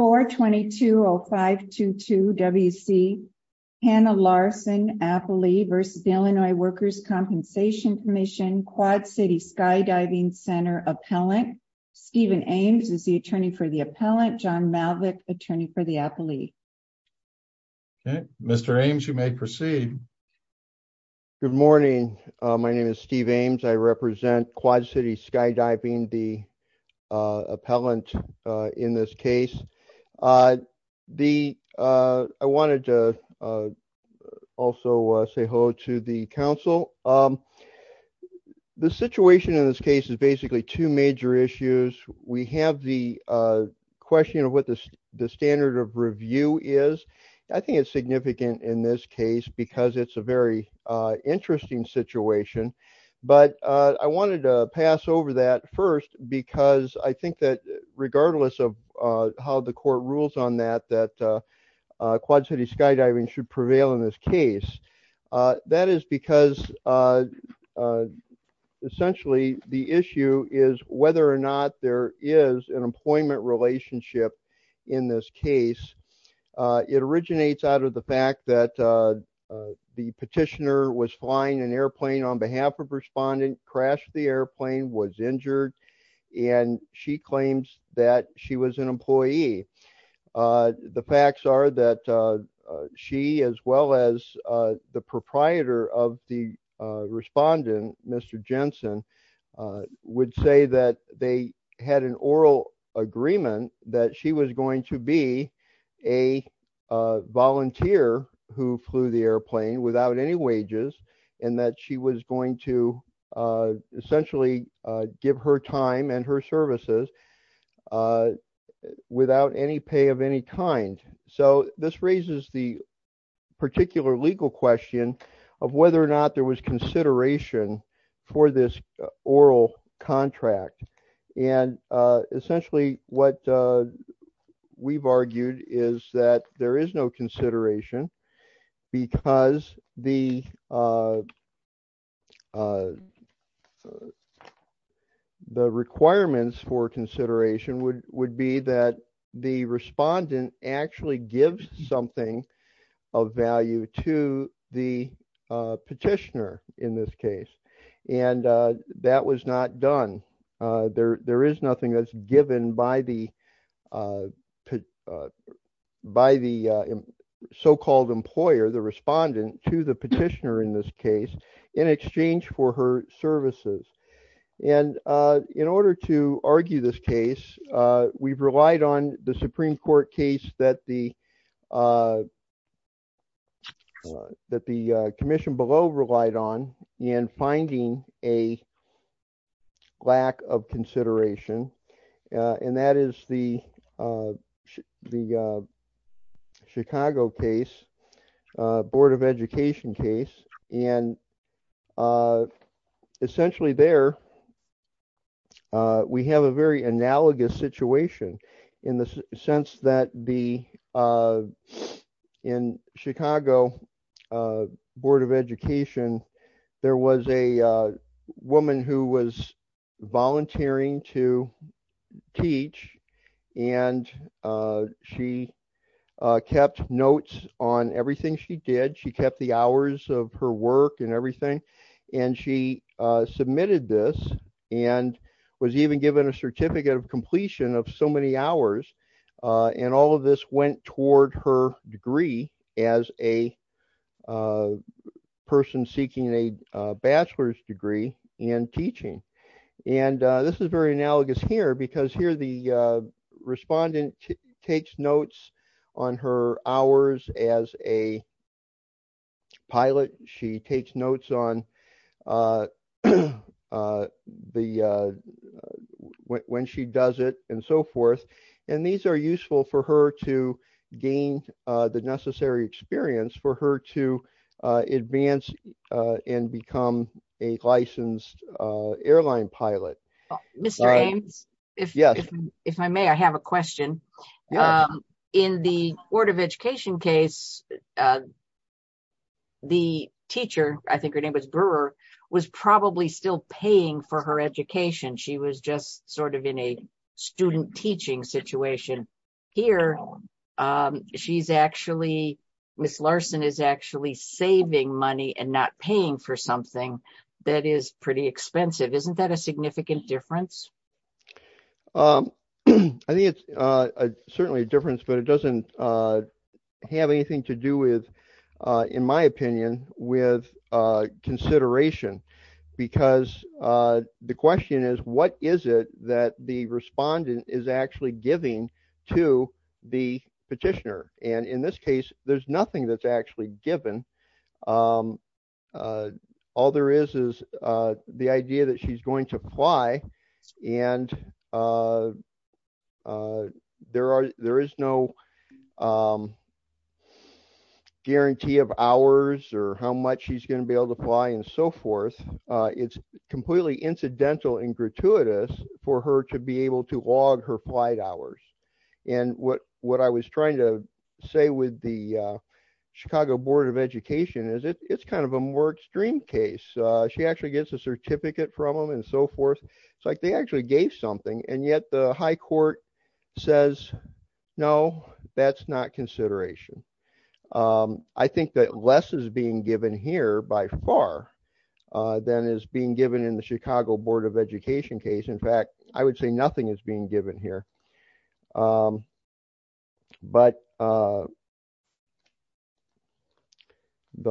422-0522-WC, Hannah Larson, appellee v. Illinois Workers' Compensation Comm'n, Quad City Skydiving Center Appellant. Stephen Ames is the attorney for the appellant, John Malvick, attorney for the appellee. Okay, Mr. Ames, you may proceed. Good morning, my name is Steve Ames. I represent Quad City Skydiving, being the appellant in this case. I wanted to also say hello to the council. The situation in this case is basically two major issues. We have the question of what the standard of review is. I think it's significant in this case because it's a very interesting situation. But I wanted to pass over that. Because I think that regardless of how the court rules on that, that Quad City Skydiving should prevail in this case. That is because essentially the issue is whether or not there is an employment relationship in this case. It originates out of the fact that the petitioner was flying an airplane on behalf of a respondent, crashed the airplane, was injured, and she claims that she was an employee. The facts are that she, as well as the proprietor of the respondent, Mr. Jensen, would say that they had an oral agreement that she was going to be a volunteer who flew the airplane without any wages, and that she was going to essentially give her time and her services without any pay of any kind. So this raises the particular legal question of whether or not there was consideration for this oral contract. And essentially what we've argued is that there is no consideration because the requirements for consideration would be that the respondent actually gives something of value to the petitioner in this case. And that was not done. There is nothing that's given by the so-called employer, the respondent, to the petitioner in this case in exchange for her services. And in order to argue this case, we've relied on the Supreme Court case that the commission below relied on in finding a lack of consideration, and that is the Chicago case, Board of Education case. And essentially there, we have a very analogous situation in the sense that in Chicago Board of Education, there was a woman who was volunteering to teach and she kept notes on everything she did. She kept the hours of her work and everything. And she submitted this and was even given a certificate of completion of so many hours. And all of this went toward her degree as a person seeking a bachelor's degree in teaching. And this is very analogous here because here the respondent takes notes on her hours as a pilot. She takes notes on when she does it and so forth. And these are useful for her to gain the necessary experience for her to advance and become a licensed airline pilot. Mr. Ames, if I may, I have a question. In the Board of Education case, the teacher, I think her name was Brewer, was probably still paying for her education. She was just sort of in a student teaching situation. Here, she's actually, Ms. Larson is actually saving money and not paying for something that is pretty expensive. Isn't that a significant difference? I think it's certainly a difference, but it doesn't have anything to do with, in my opinion, with consideration. Because the question is, what is it that the respondent is actually giving to the petitioner? And in this case, there's nothing that's actually given. All there is is the idea that she's going to fly and there is no guarantee of hours or how much she's gonna be able to fly and so forth. It's completely incidental and gratuitous for her to be able to log her flight hours. And what I was trying to say with the Chicago Board of Education is it's kind of a more extreme case. She actually gets a certificate from them and so forth. It's like they actually gave something and yet the high court says, no, that's not consideration. I think that less is being given here by far than is being given in the Chicago Board of Education case. In fact, I would say nothing is being given here. But the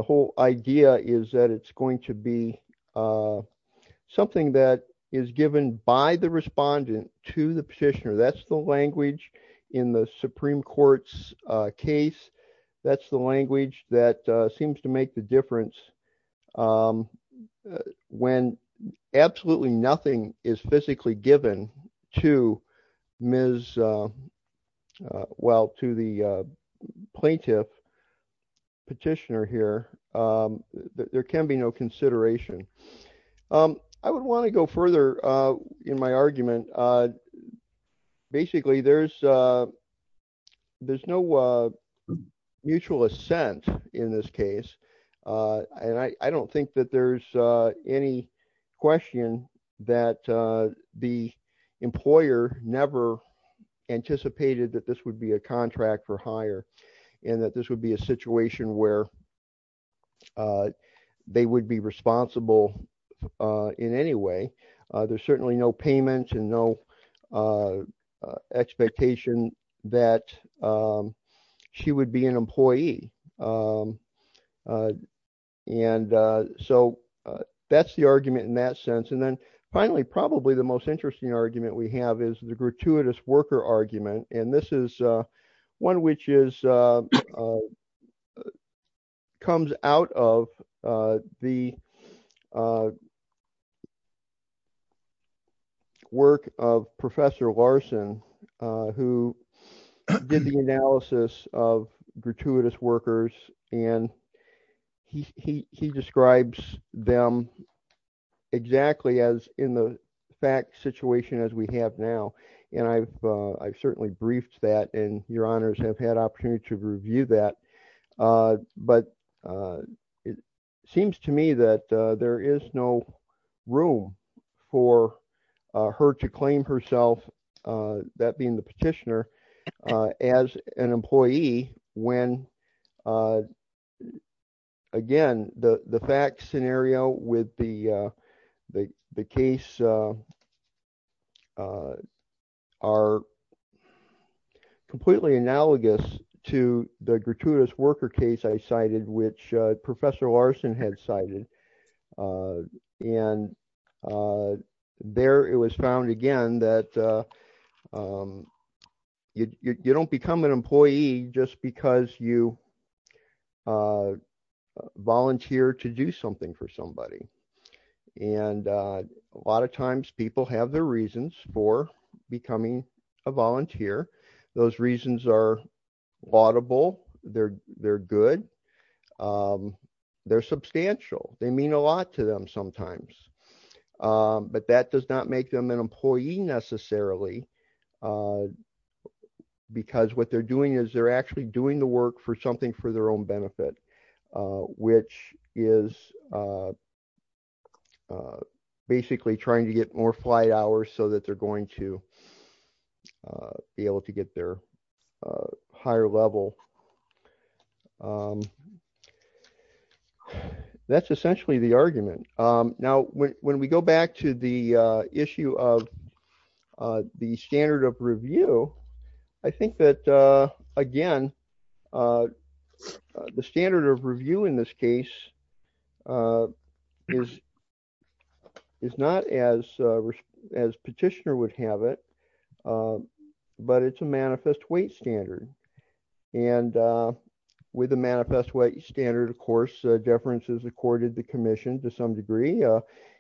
whole idea is that it's going to be something that is given by the respondent to the petitioner. That's the language in the Supreme Court's case. That's the language that seems to make the difference when absolutely nothing is physically given to the plaintiff petitioner here. There can be no consideration. I would wanna go further in my argument. Basically, there's no mutual assent in this case. And I don't think that there's any question that the employer never anticipated that this would be a contract for hire and that this would be a situation where they would be responsible in any way. There's certainly no payment and no expectation that she would be an employee. And so that's the argument in that sense. And then finally, probably the most interesting argument we have is the gratuitous worker argument. And this is one which comes out of the work of Professor Larson who did the analysis of gratuitous workers. And he describes them exactly the way as in the fact situation as we have now. And I've certainly briefed that and your honors have had opportunity to review that. But it seems to me that there is no room for her to claim herself, that being the petitioner, as an employee when again, the fact scenario with the case are completely analogous to the gratuitous worker case I cited which Professor Larson had cited. And there it was found again, that you don't become an employee just because you volunteer to do something for somebody. And a lot of times people have their reasons for becoming a volunteer. Those reasons are laudable, they're good, they're substantial, they mean a lot to them sometimes. But that does not make them an employee necessarily because what they're doing is they're actually doing the work for something for their own benefit, which is basically trying to get more flight hours so that they're going to be able to get their higher level. That's essentially the argument. Now, when we go back to the issue of the standard of review, I think that again, the standard of review in this case is not as petitioner would have it, but it's a manifest weight standard. And with a manifest weight standard, of course, deferences accorded the commission to some degree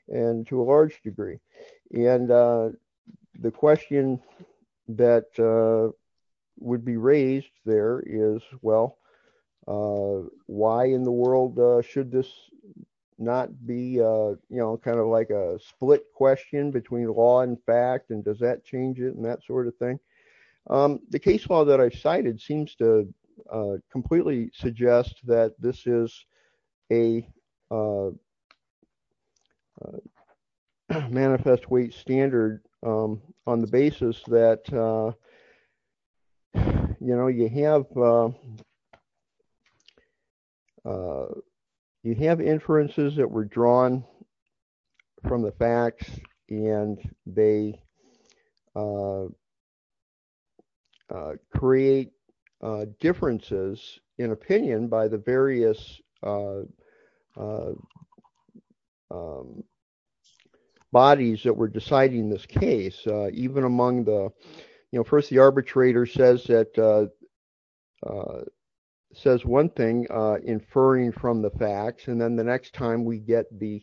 and to a large degree. And the question that would be raised there is, well, why in the world should this not be, kind of like a split question between law and fact and does that change it and that sort of thing? The case law that I've cited seems to completely suggest that this is a manifest weight standard on the basis that you have inferences that were drawn from the facts and they create differences in opinion by the various bodies that were deciding this case. Even among the, first the arbitrator says that, says one thing, inferring from the facts and then the next time we get the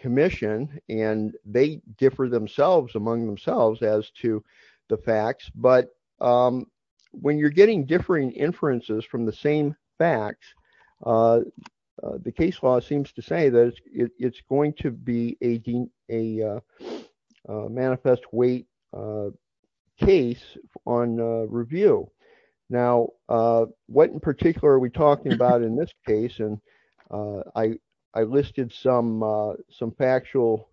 commission and they differ themselves among themselves as to the facts. But when you're getting differing inferences from the same facts, the case law seems to say that it's going to be a manifest weight case on review. Now, what in particular are we talking about in this case? And I listed some factual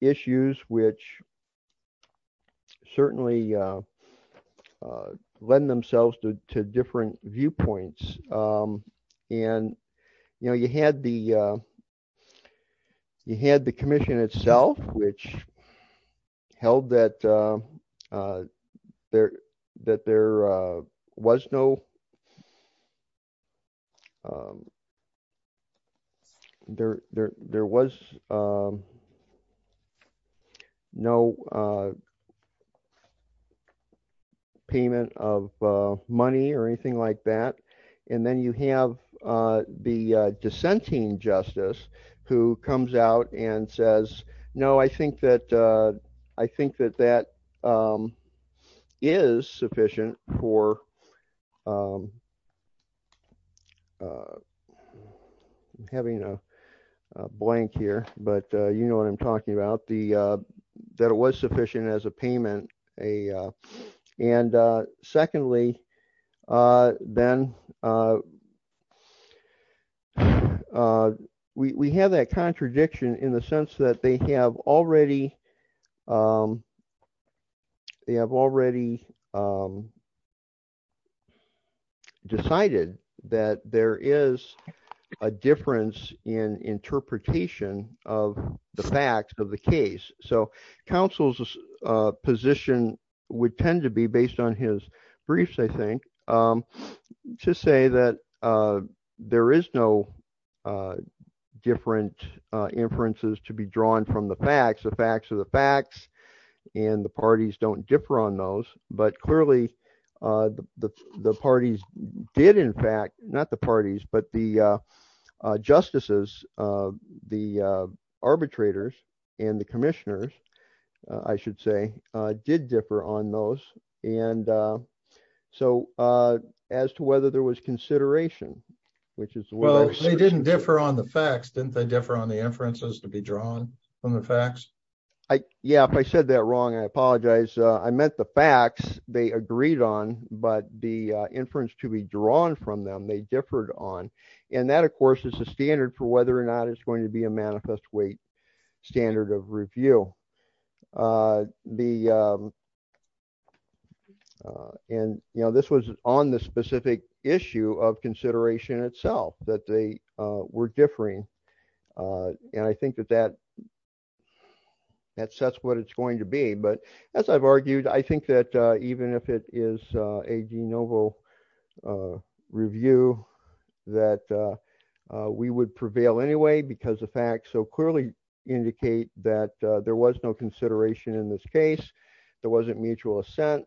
issues which certainly lend themselves to different viewpoints. And you had the commission itself which held that there was no payment of money or anything like that. And then you have the dissenting justice who comes out and says, no, I think that that is sufficient for having a blank here, but you know what I'm talking about that it was sufficient as a payment. And secondly, then we have that contradiction in the sense that they have already decided that there is a difference in interpretation of the facts of the case. So counsel's position would tend to be based on his briefs I think to say that there is no different inferences to be drawn from the facts. The facts are the facts and the parties don't differ on those, but clearly the parties did in fact, not the parties but the justices, the arbitrators and the commissioners I should say did differ on those. And so as to whether there was consideration, which is the way- Well, they didn't differ on the facts, didn't they differ on the inferences to be drawn from the facts? Yeah, if I said that wrong, I apologize. I meant the facts they agreed on, but the inference to be drawn from them, they differed on. And that of course is a standard for whether or not it's going to be a manifest weight standard of review. And this was on the specific issue of consideration itself that they were differing. And I think that that sets what it's going to be. But as I've argued, I think that even if it is a de novo a review that we would prevail anyway because the facts so clearly indicate that there was no consideration in this case, there wasn't mutual assent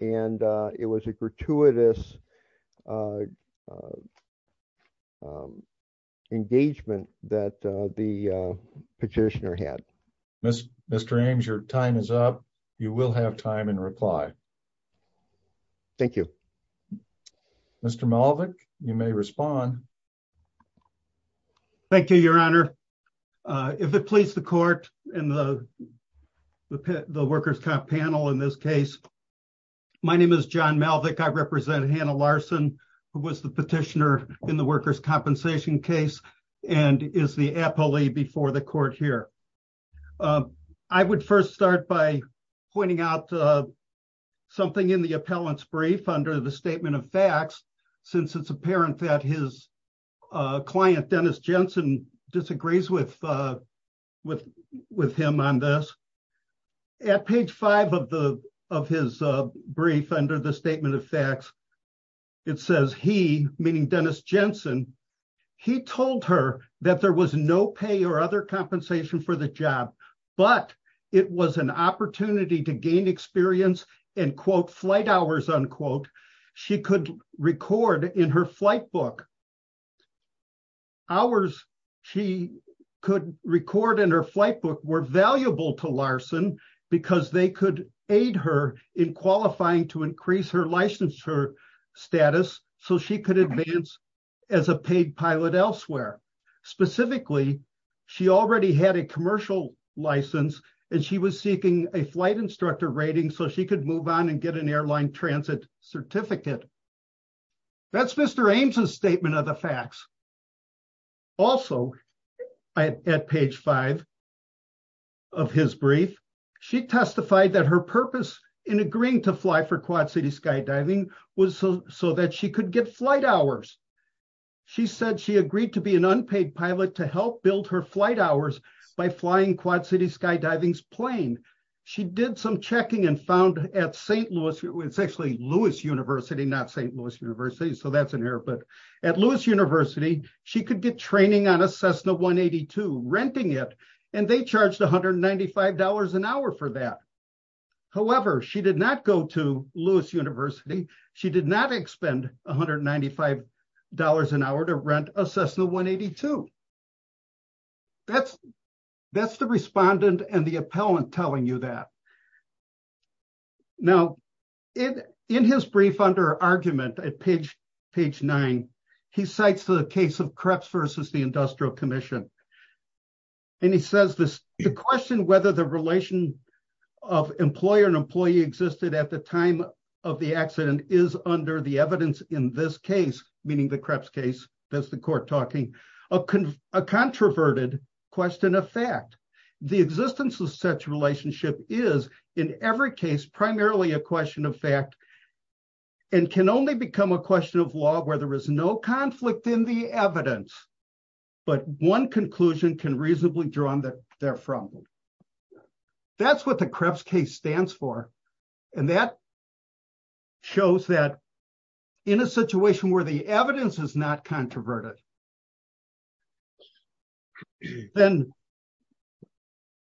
and it was a gratuitous engagement that the petitioner had. Mr. Ames, your time is up. You will have time and reply. Thank you. Thank you. Mr. Malvick, you may respond. Thank you, your honor. If it please the court and the workers panel in this case, my name is John Malvick. I represent Hannah Larson, who was the petitioner in the workers' compensation case and is the appellee before the court here. I would first start by pointing out something in the appellant's brief under the statement of facts since it's apparent that his client, Dennis Jensen disagrees with him on this. At page five of his brief under the statement of facts, it says he, meaning Dennis Jensen, he told her that there was no pay or other compensation for the job, but it was an opportunity to gain experience and quote, flight hours, unquote. She could record in her flight book. Hours she could record in her flight book were valuable to Larson because they could aid her in qualifying to increase her licensure status so she could advance as a paid pilot elsewhere. Specifically, she already had a commercial license and she was seeking a flight instructor rating so she could move on and get an airline transit certificate. That's Mr. Ames' statement of the facts. Also at page five of his brief, she testified that her purpose in agreeing to fly for Quad City Skydiving was so that she could get flight hours. She said she agreed to be an unpaid pilot to help build her flight hours by flying Quad City Skydiving's plane. She did some checking and found at St. Louis, it's actually Lewis University, not St. Louis University, so that's in here, but at Lewis University, she could get training on a Cessna 182, renting it, and they charged $195 an hour for that. However, she did not go to Lewis University. She did not expend $195 an hour to rent a Cessna 182. That's the respondent and the appellant telling you that. Now, in his brief under argument at page nine, he cites the case of Kreps versus the Industrial Commission. And he says the question whether the relation of employer and employee existed at the time of the accident is under the evidence in this case, meaning the Kreps case, that's the court talking, a controverted question of fact. The existence of such relationship is in every case, primarily a question of fact, and can only become a question of law where there is no conflict in the evidence, but one conclusion can reasonably draw on that they're from. That's what the Kreps case stands for. And that shows that in a situation where the evidence is not controverted, then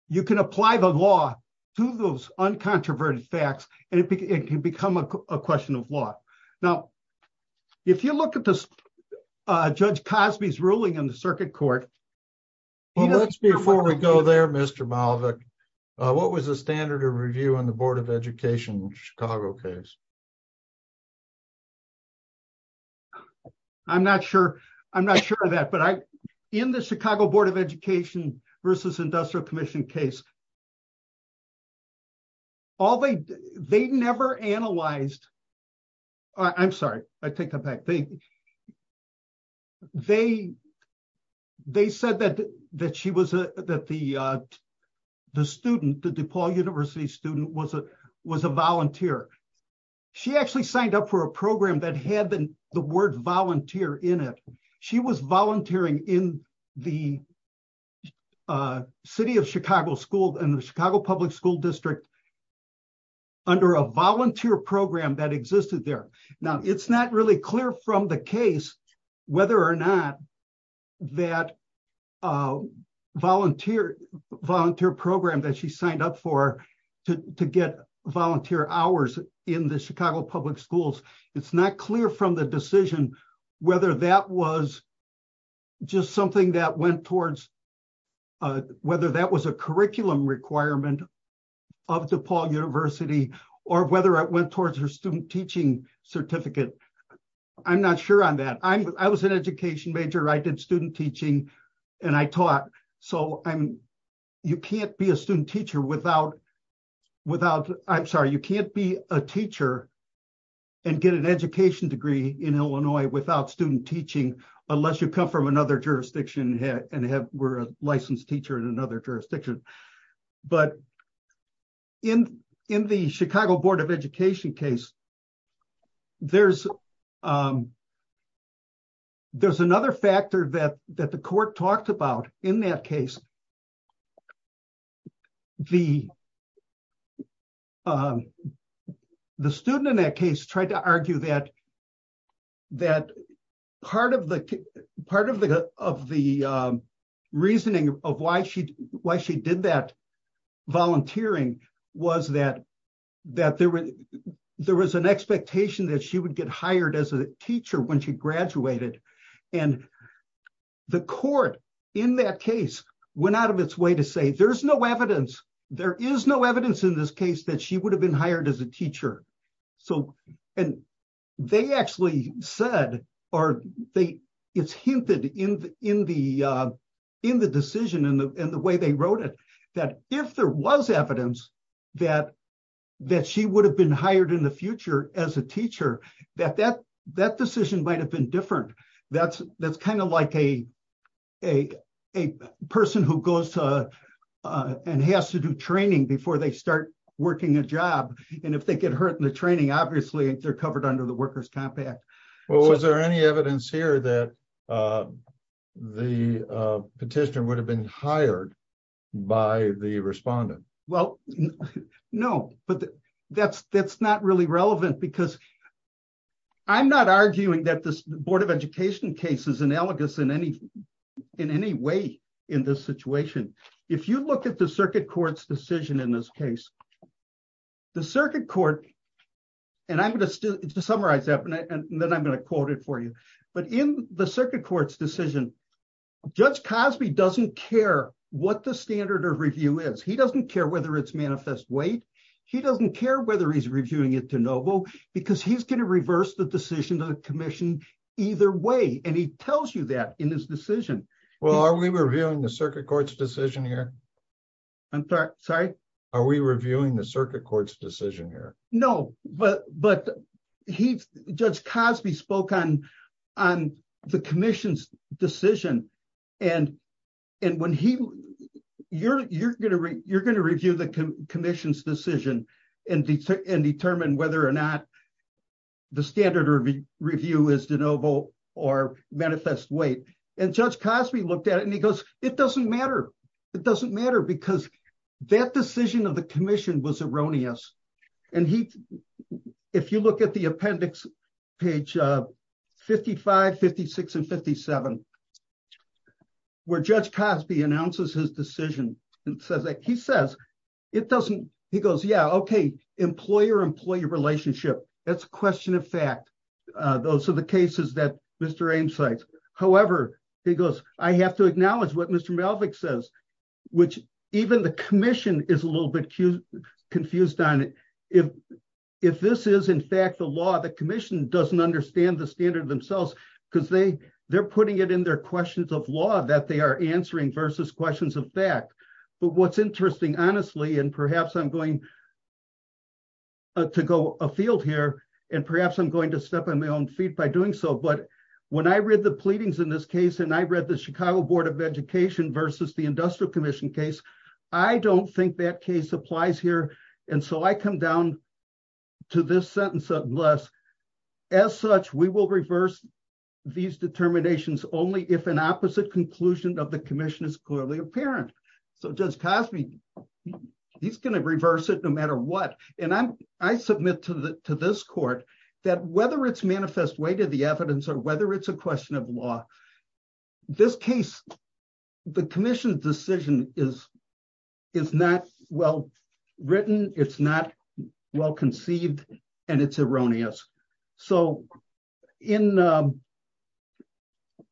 you can apply the law to those uncontroverted facts and it can become a question of law. Now, if you look at Judge Cosby's ruling in the circuit court, he doesn't- Before we go there, Mr. Malvick, what was the standard of review on the Board of Education, Chicago case? I'm not sure of that, but in the Chicago Board of Education versus Industrial Commission case, all they did, they never analyzed, I'm sorry, I take that back. They said that the student, the DePaul University student was a volunteer. She actually signed up for a program that had the word volunteer in it. She was volunteering in the City of Chicago School and the Chicago Public School District under a volunteer program that existed there. Now, it's not really clear from the case whether or not that volunteer program that she signed up for to get volunteer hours in the Chicago Public Schools. It's not clear from the decision whether that was just something that went towards, whether that was a curriculum requirement of DePaul University or whether it went towards her student teaching certificate. I'm not sure on that. I was an education major. I did student teaching and I taught. So you can't be a student teacher without, without, I'm sorry, you can't be a teacher and get an education degree in Illinois without student teaching unless you come from another jurisdiction and were a licensed teacher in another jurisdiction. But in the Chicago Board of Education case, there's another factor that the court talked about in that case, the student in that case tried to argue that, that part of the reasoning of why she did that volunteering was that there was an expectation that she would get hired as a teacher when she graduated. And the court in that case went out of its way to say, there's no evidence. There is no evidence in this case that she would have been hired as a teacher. So, and they actually said, or it's hinted in the decision and the way they wrote it, that if there was evidence that she would have been hired in the future as a teacher, that that decision might've been different. That's kind of like a person who goes and has to do training before they start working a job. And if they get hurt in the training, obviously they're covered under the worker's compact. So- And they're not hired by the respondent. Well, no, but that's not really relevant because I'm not arguing that this Board of Education case is analogous in any way in this situation. If you look at the circuit court's decision in this case, the circuit court, and I'm going to summarize that and then I'm going to quote it for you. But in the circuit court's decision, Judge Cosby doesn't care what the standard of review is. He doesn't care whether it's manifest weight. He doesn't care whether he's reviewing it to NOVO because he's going to reverse the decision to the commission either way. And he tells you that in his decision. Well, are we reviewing the circuit court's decision here? I'm sorry, sorry? Are we reviewing the circuit court's decision here? No, but Judge Cosby spoke on the commission's decision. And when he, you're going to review the commission's decision and determine whether or not the standard of review is to NOVO or manifest weight. And Judge Cosby looked at it and he goes, it doesn't matter. It doesn't matter because that decision of the commission was erroneous. And he, if you look at the appendix page 55, 56 and 57 where Judge Cosby announces his decision and says that he says, it doesn't, he goes, yeah, okay, employer-employee relationship. That's a question of fact. Those are the cases that Mr. Ames cites. However, he goes, I have to acknowledge what Mr. Melvick says, which even the commission is a little bit confused on it. If this is in fact the law, the commission doesn't understand the standard themselves because they're putting it in their questions of law that they are answering versus questions of fact. But what's interesting, honestly, and perhaps I'm going to go afield here and perhaps I'm going to step on my own feet by doing so. But when I read the pleadings in this case and I read the Chicago Board of Education versus the Industrial Commission case, I don't think that case applies here. And so I come down to this sentence of less. As such, we will reverse these determinations only if an opposite conclusion of the commission is clearly apparent. So Judge Cosby, he's going to reverse it no matter what. And I submit to this court that whether it's manifest way to the evidence or whether it's a question of law, this case, the commission's decision is not well-written, it's not well-conceived and it's erroneous. So in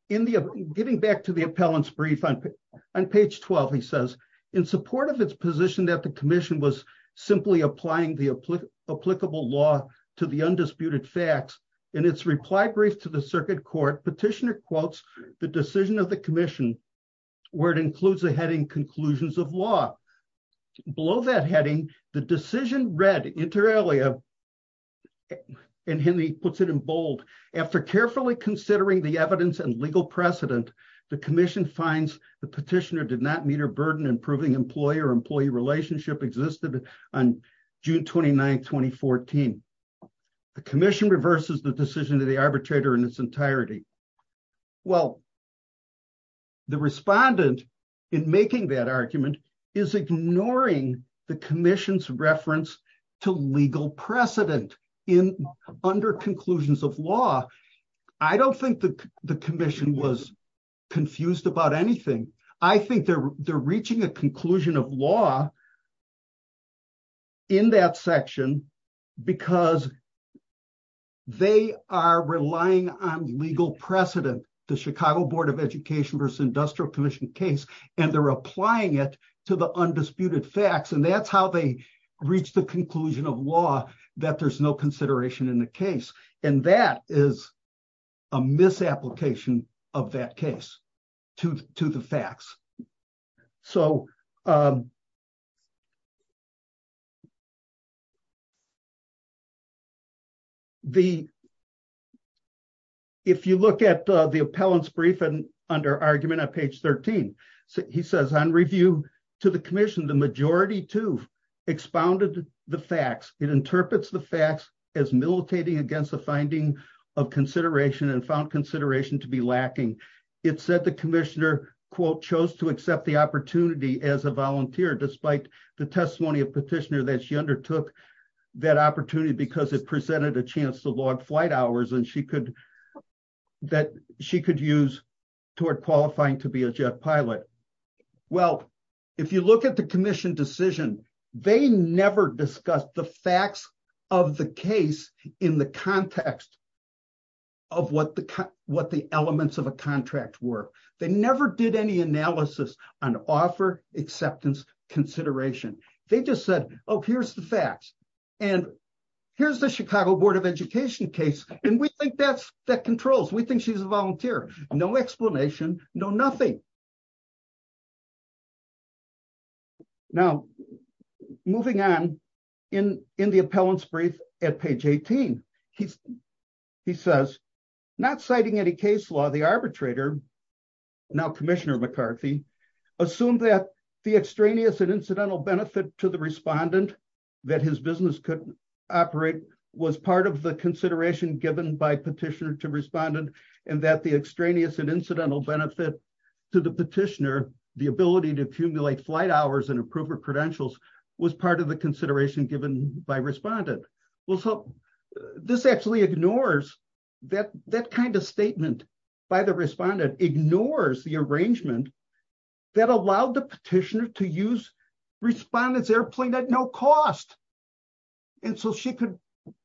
giving back to the appellant's brief on page 12, he says, in support of its position that the commission was simply applying the applicable law to the undisputed facts, in its reply brief to the circuit court, petitioner quotes the decision of the commission where it includes a heading conclusions of law. Below that heading, the decision read inter alia and Henry puts it in bold, after carefully considering the evidence and legal precedent the commission finds the petitioner did not meet her burden in proving employee or employee relationship existed on June 29th, 2014. The commission reverses the decision of the arbitrator in its entirety. Well, the respondent in making that argument is ignoring the commission's reference to legal precedent under conclusions of law. I don't think the commission was confused about anything. I think they're reaching a conclusion of law in that section because they are relying on legal precedent, the Chicago Board of Education versus Industrial Commission case, and they're applying it to the undisputed facts. And that's how they reach the conclusion of law that there's no consideration in the case. And that is a misapplication of that case to the facts. So, if you look at the appellant's brief under argument on page 13, he says, on review to the commission, the majority to expounded the facts. It interprets the facts as militating against the finding of consideration and found consideration to be lacking. It said the commissioner, quote, chose to accept the opportunity as a volunteer despite the testimony of petitioner that she undertook that opportunity because it presented a chance to log flight hours and that she could use toward qualifying to be a jet pilot. Well, if you look at the commission decision, they never discussed the facts of the case in the context of what the elements of a contract were. They never did any analysis on offer, acceptance, consideration. They just said, oh, here's the facts. And here's the Chicago Board of Education case. And we think that controls. We think she's a volunteer. No explanation, no nothing. Okay. Now, moving on in the appellant's brief at page 18, he says, not citing any case law, the arbitrator, now commissioner McCarthy, assumed that the extraneous and incidental benefit to the respondent that his business could operate was part of the consideration given by petitioner to respondent and that the extraneous and incidental benefit to the petitioner, the ability to accumulate flight hours and approver credentials was part of the consideration given by respondent. Well, so this actually ignores that kind of statement by the respondent, ignores the arrangement that allowed the petitioner to use respondent's airplane at no cost. And so she could,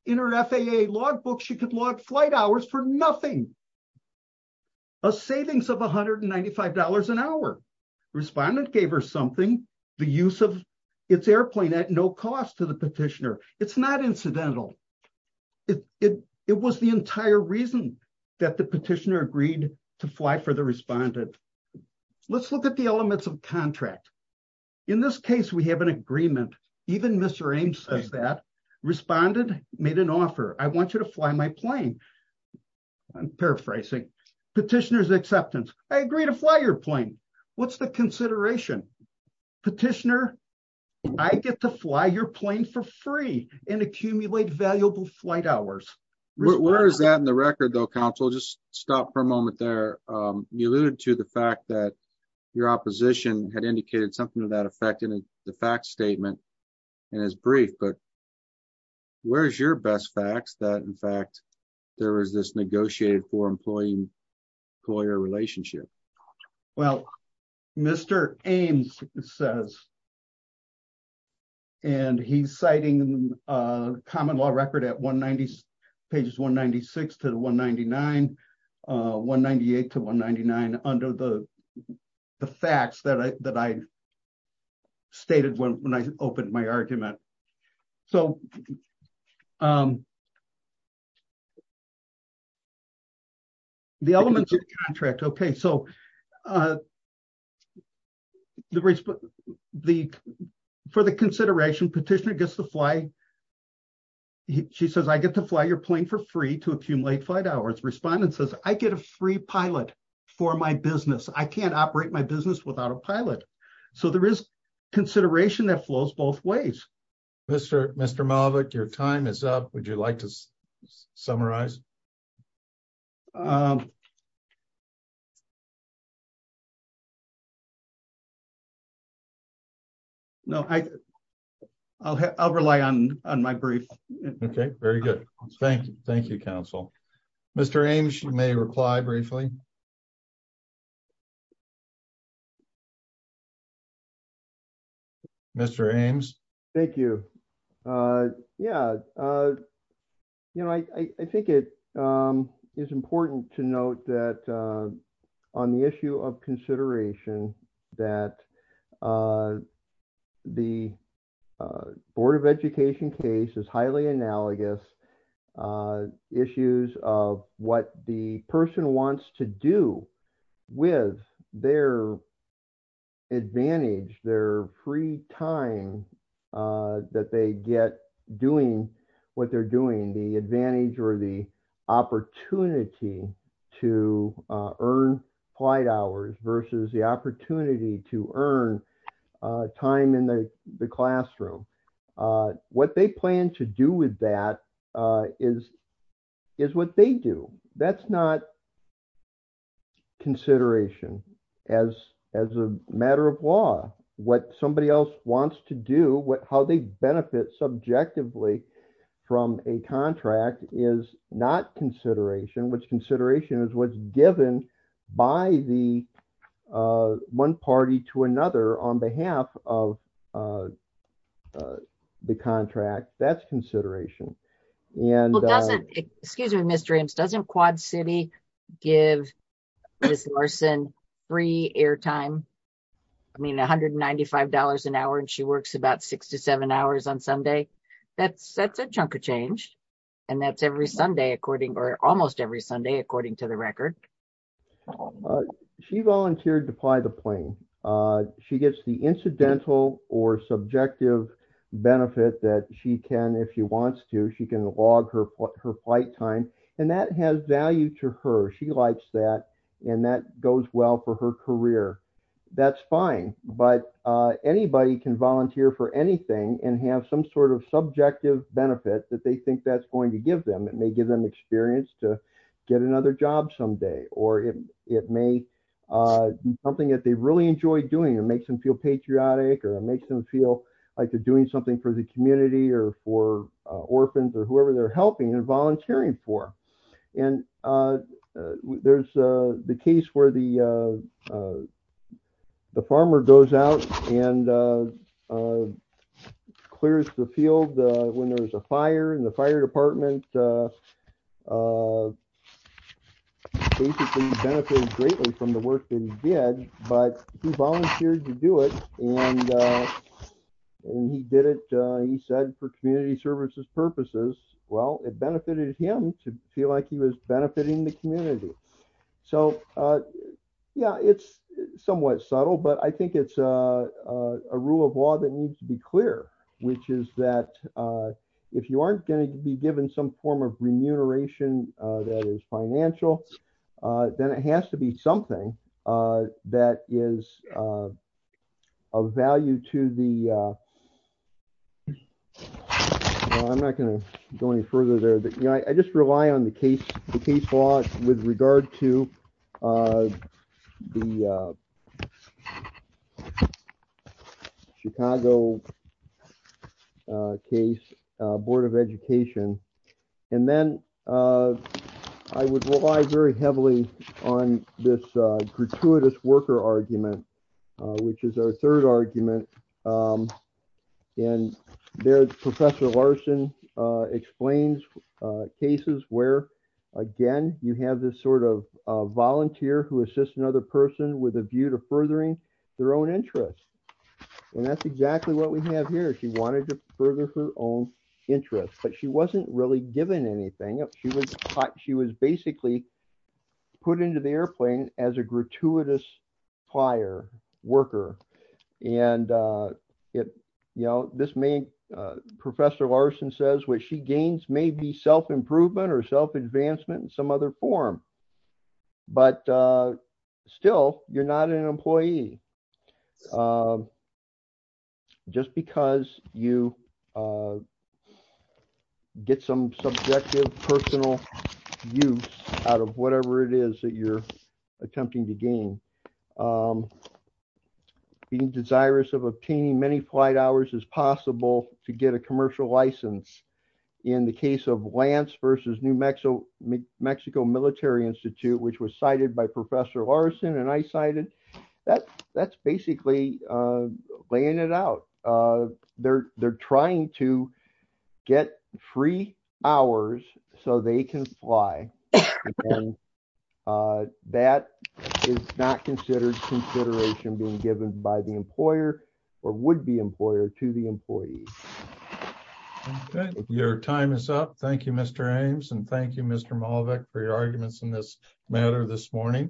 in her FAA log book, she could log flight hours for nothing. A savings of $195 an hour. Respondent gave her something, the use of its airplane at no cost to the petitioner. It's not incidental. It was the entire reason that the petitioner agreed to fly for the respondent. Let's look at the elements of contract. In this case, we have an agreement. Even Mr. Ames says that. Respondent made an offer. I want you to fly my plane. I'm paraphrasing. Petitioner's acceptance. I agree to fly your plane. What's the consideration? Petitioner, I get to fly your plane for free and accumulate valuable flight hours. Where is that in the record though, counsel? Just stop for a moment there. You alluded to the fact that your opposition had indicated something to that effect in the fact statement and as brief, but where's your best facts that in fact there was this negotiated for employee-employer relationship? Well, Mr. Ames says, and he's citing a common law record at pages 196 to 199, 198 to 199 under the facts that I stated when I opened my argument. So the elements of contract, okay. So for the consideration, petitioner gets to fly. She says, I get to fly your plane for free to accumulate flight hours. Respondent says, I get a free pilot for my business. I can't operate my business without a pilot. So there is consideration that flows both ways. Mr. Malvick, your time is up. Would you like to summarize? No, I'll rely on my brief. Okay, very good. Thank you, counsel. Mr. Ames, you may reply briefly. Mr. Ames. Thank you. Yeah, you know, I think it is important to note that on the issue of consideration that the board of education case is highly analogous issues of what the person wants to do with their advantage, their free time that they get doing what they're doing, the advantage or the opportunity to earn flight hours versus the opportunity to earn time in the classroom. What they plan to do with that is what they do. That's not consideration as a matter of law. What somebody else wants to do, how they benefit subjectively from a contract is not consideration, which consideration is what's given by the one party to another on behalf of the contract. That's consideration. And- Well, doesn't, excuse me, Mr. Ames, doesn't Quad City give Ms. Larson free airtime? I mean, $195 an hour and she works about six to seven hours on Sunday. That's a chunk of change. And that's every Sunday according, or almost every Sunday, according to the record. She volunteered to fly the plane. She gets the incidental or subjective benefit that she can, if she wants to, she can log her flight time. And that has value to her. She likes that. And that goes well for her career. That's fine. But anybody can volunteer for anything and have some sort of subjective benefit that they think that's going to give them. It may give them experience to get another job someday, or it may be something that they really enjoy doing. It makes them feel patriotic, or it makes them feel like they're doing something for the community or for orphans or whoever they're helping and volunteering for. And there's the case where the farmer goes out and clears the field when there's a fire and the fire department basically benefited greatly from the work that he did, but he volunteered to do it. And he did it, he said for community services purposes, well, it benefited him to feel like he was benefiting the community. So yeah, it's somewhat subtle, but I think it's a rule of law that needs to be clear, which is that if you aren't going to be given some form of remuneration that is financial, then it has to be something that is of value to the, I'm not going to go any further there, but I just rely on the case law with regard to the Chicago case board of education. And then I would rely very heavily on this gratuitous worker argument, which is our third argument. And there's Professor Larson explains cases where again, you have this sort of volunteer who assists another person with a view to furthering their own interests. And that's exactly what we have here. She wanted to further her own interests, but she wasn't really given anything. She was taught, she was basically put into the airplane as a gratuitous fire worker. And this may, Professor Larson says what she gains may be self-improvement or self-advancement in some other form, but still you're not an employee just because you get some subjective personal use out of whatever it is that you're attempting to gain. Being desirous of obtaining many flight hours is possible to get a commercial license in the case of Lance versus New Mexico Military Institute, which was cited by Professor Larson. And I cited, that's basically laying it out. They're trying to get free hours so they can fly. That is not considered consideration being given by the employer or would be employer to the employee. Your time is up. Thank you, Mr. Ames. And thank you, Mr. Malavik for your arguments in this matter this morning.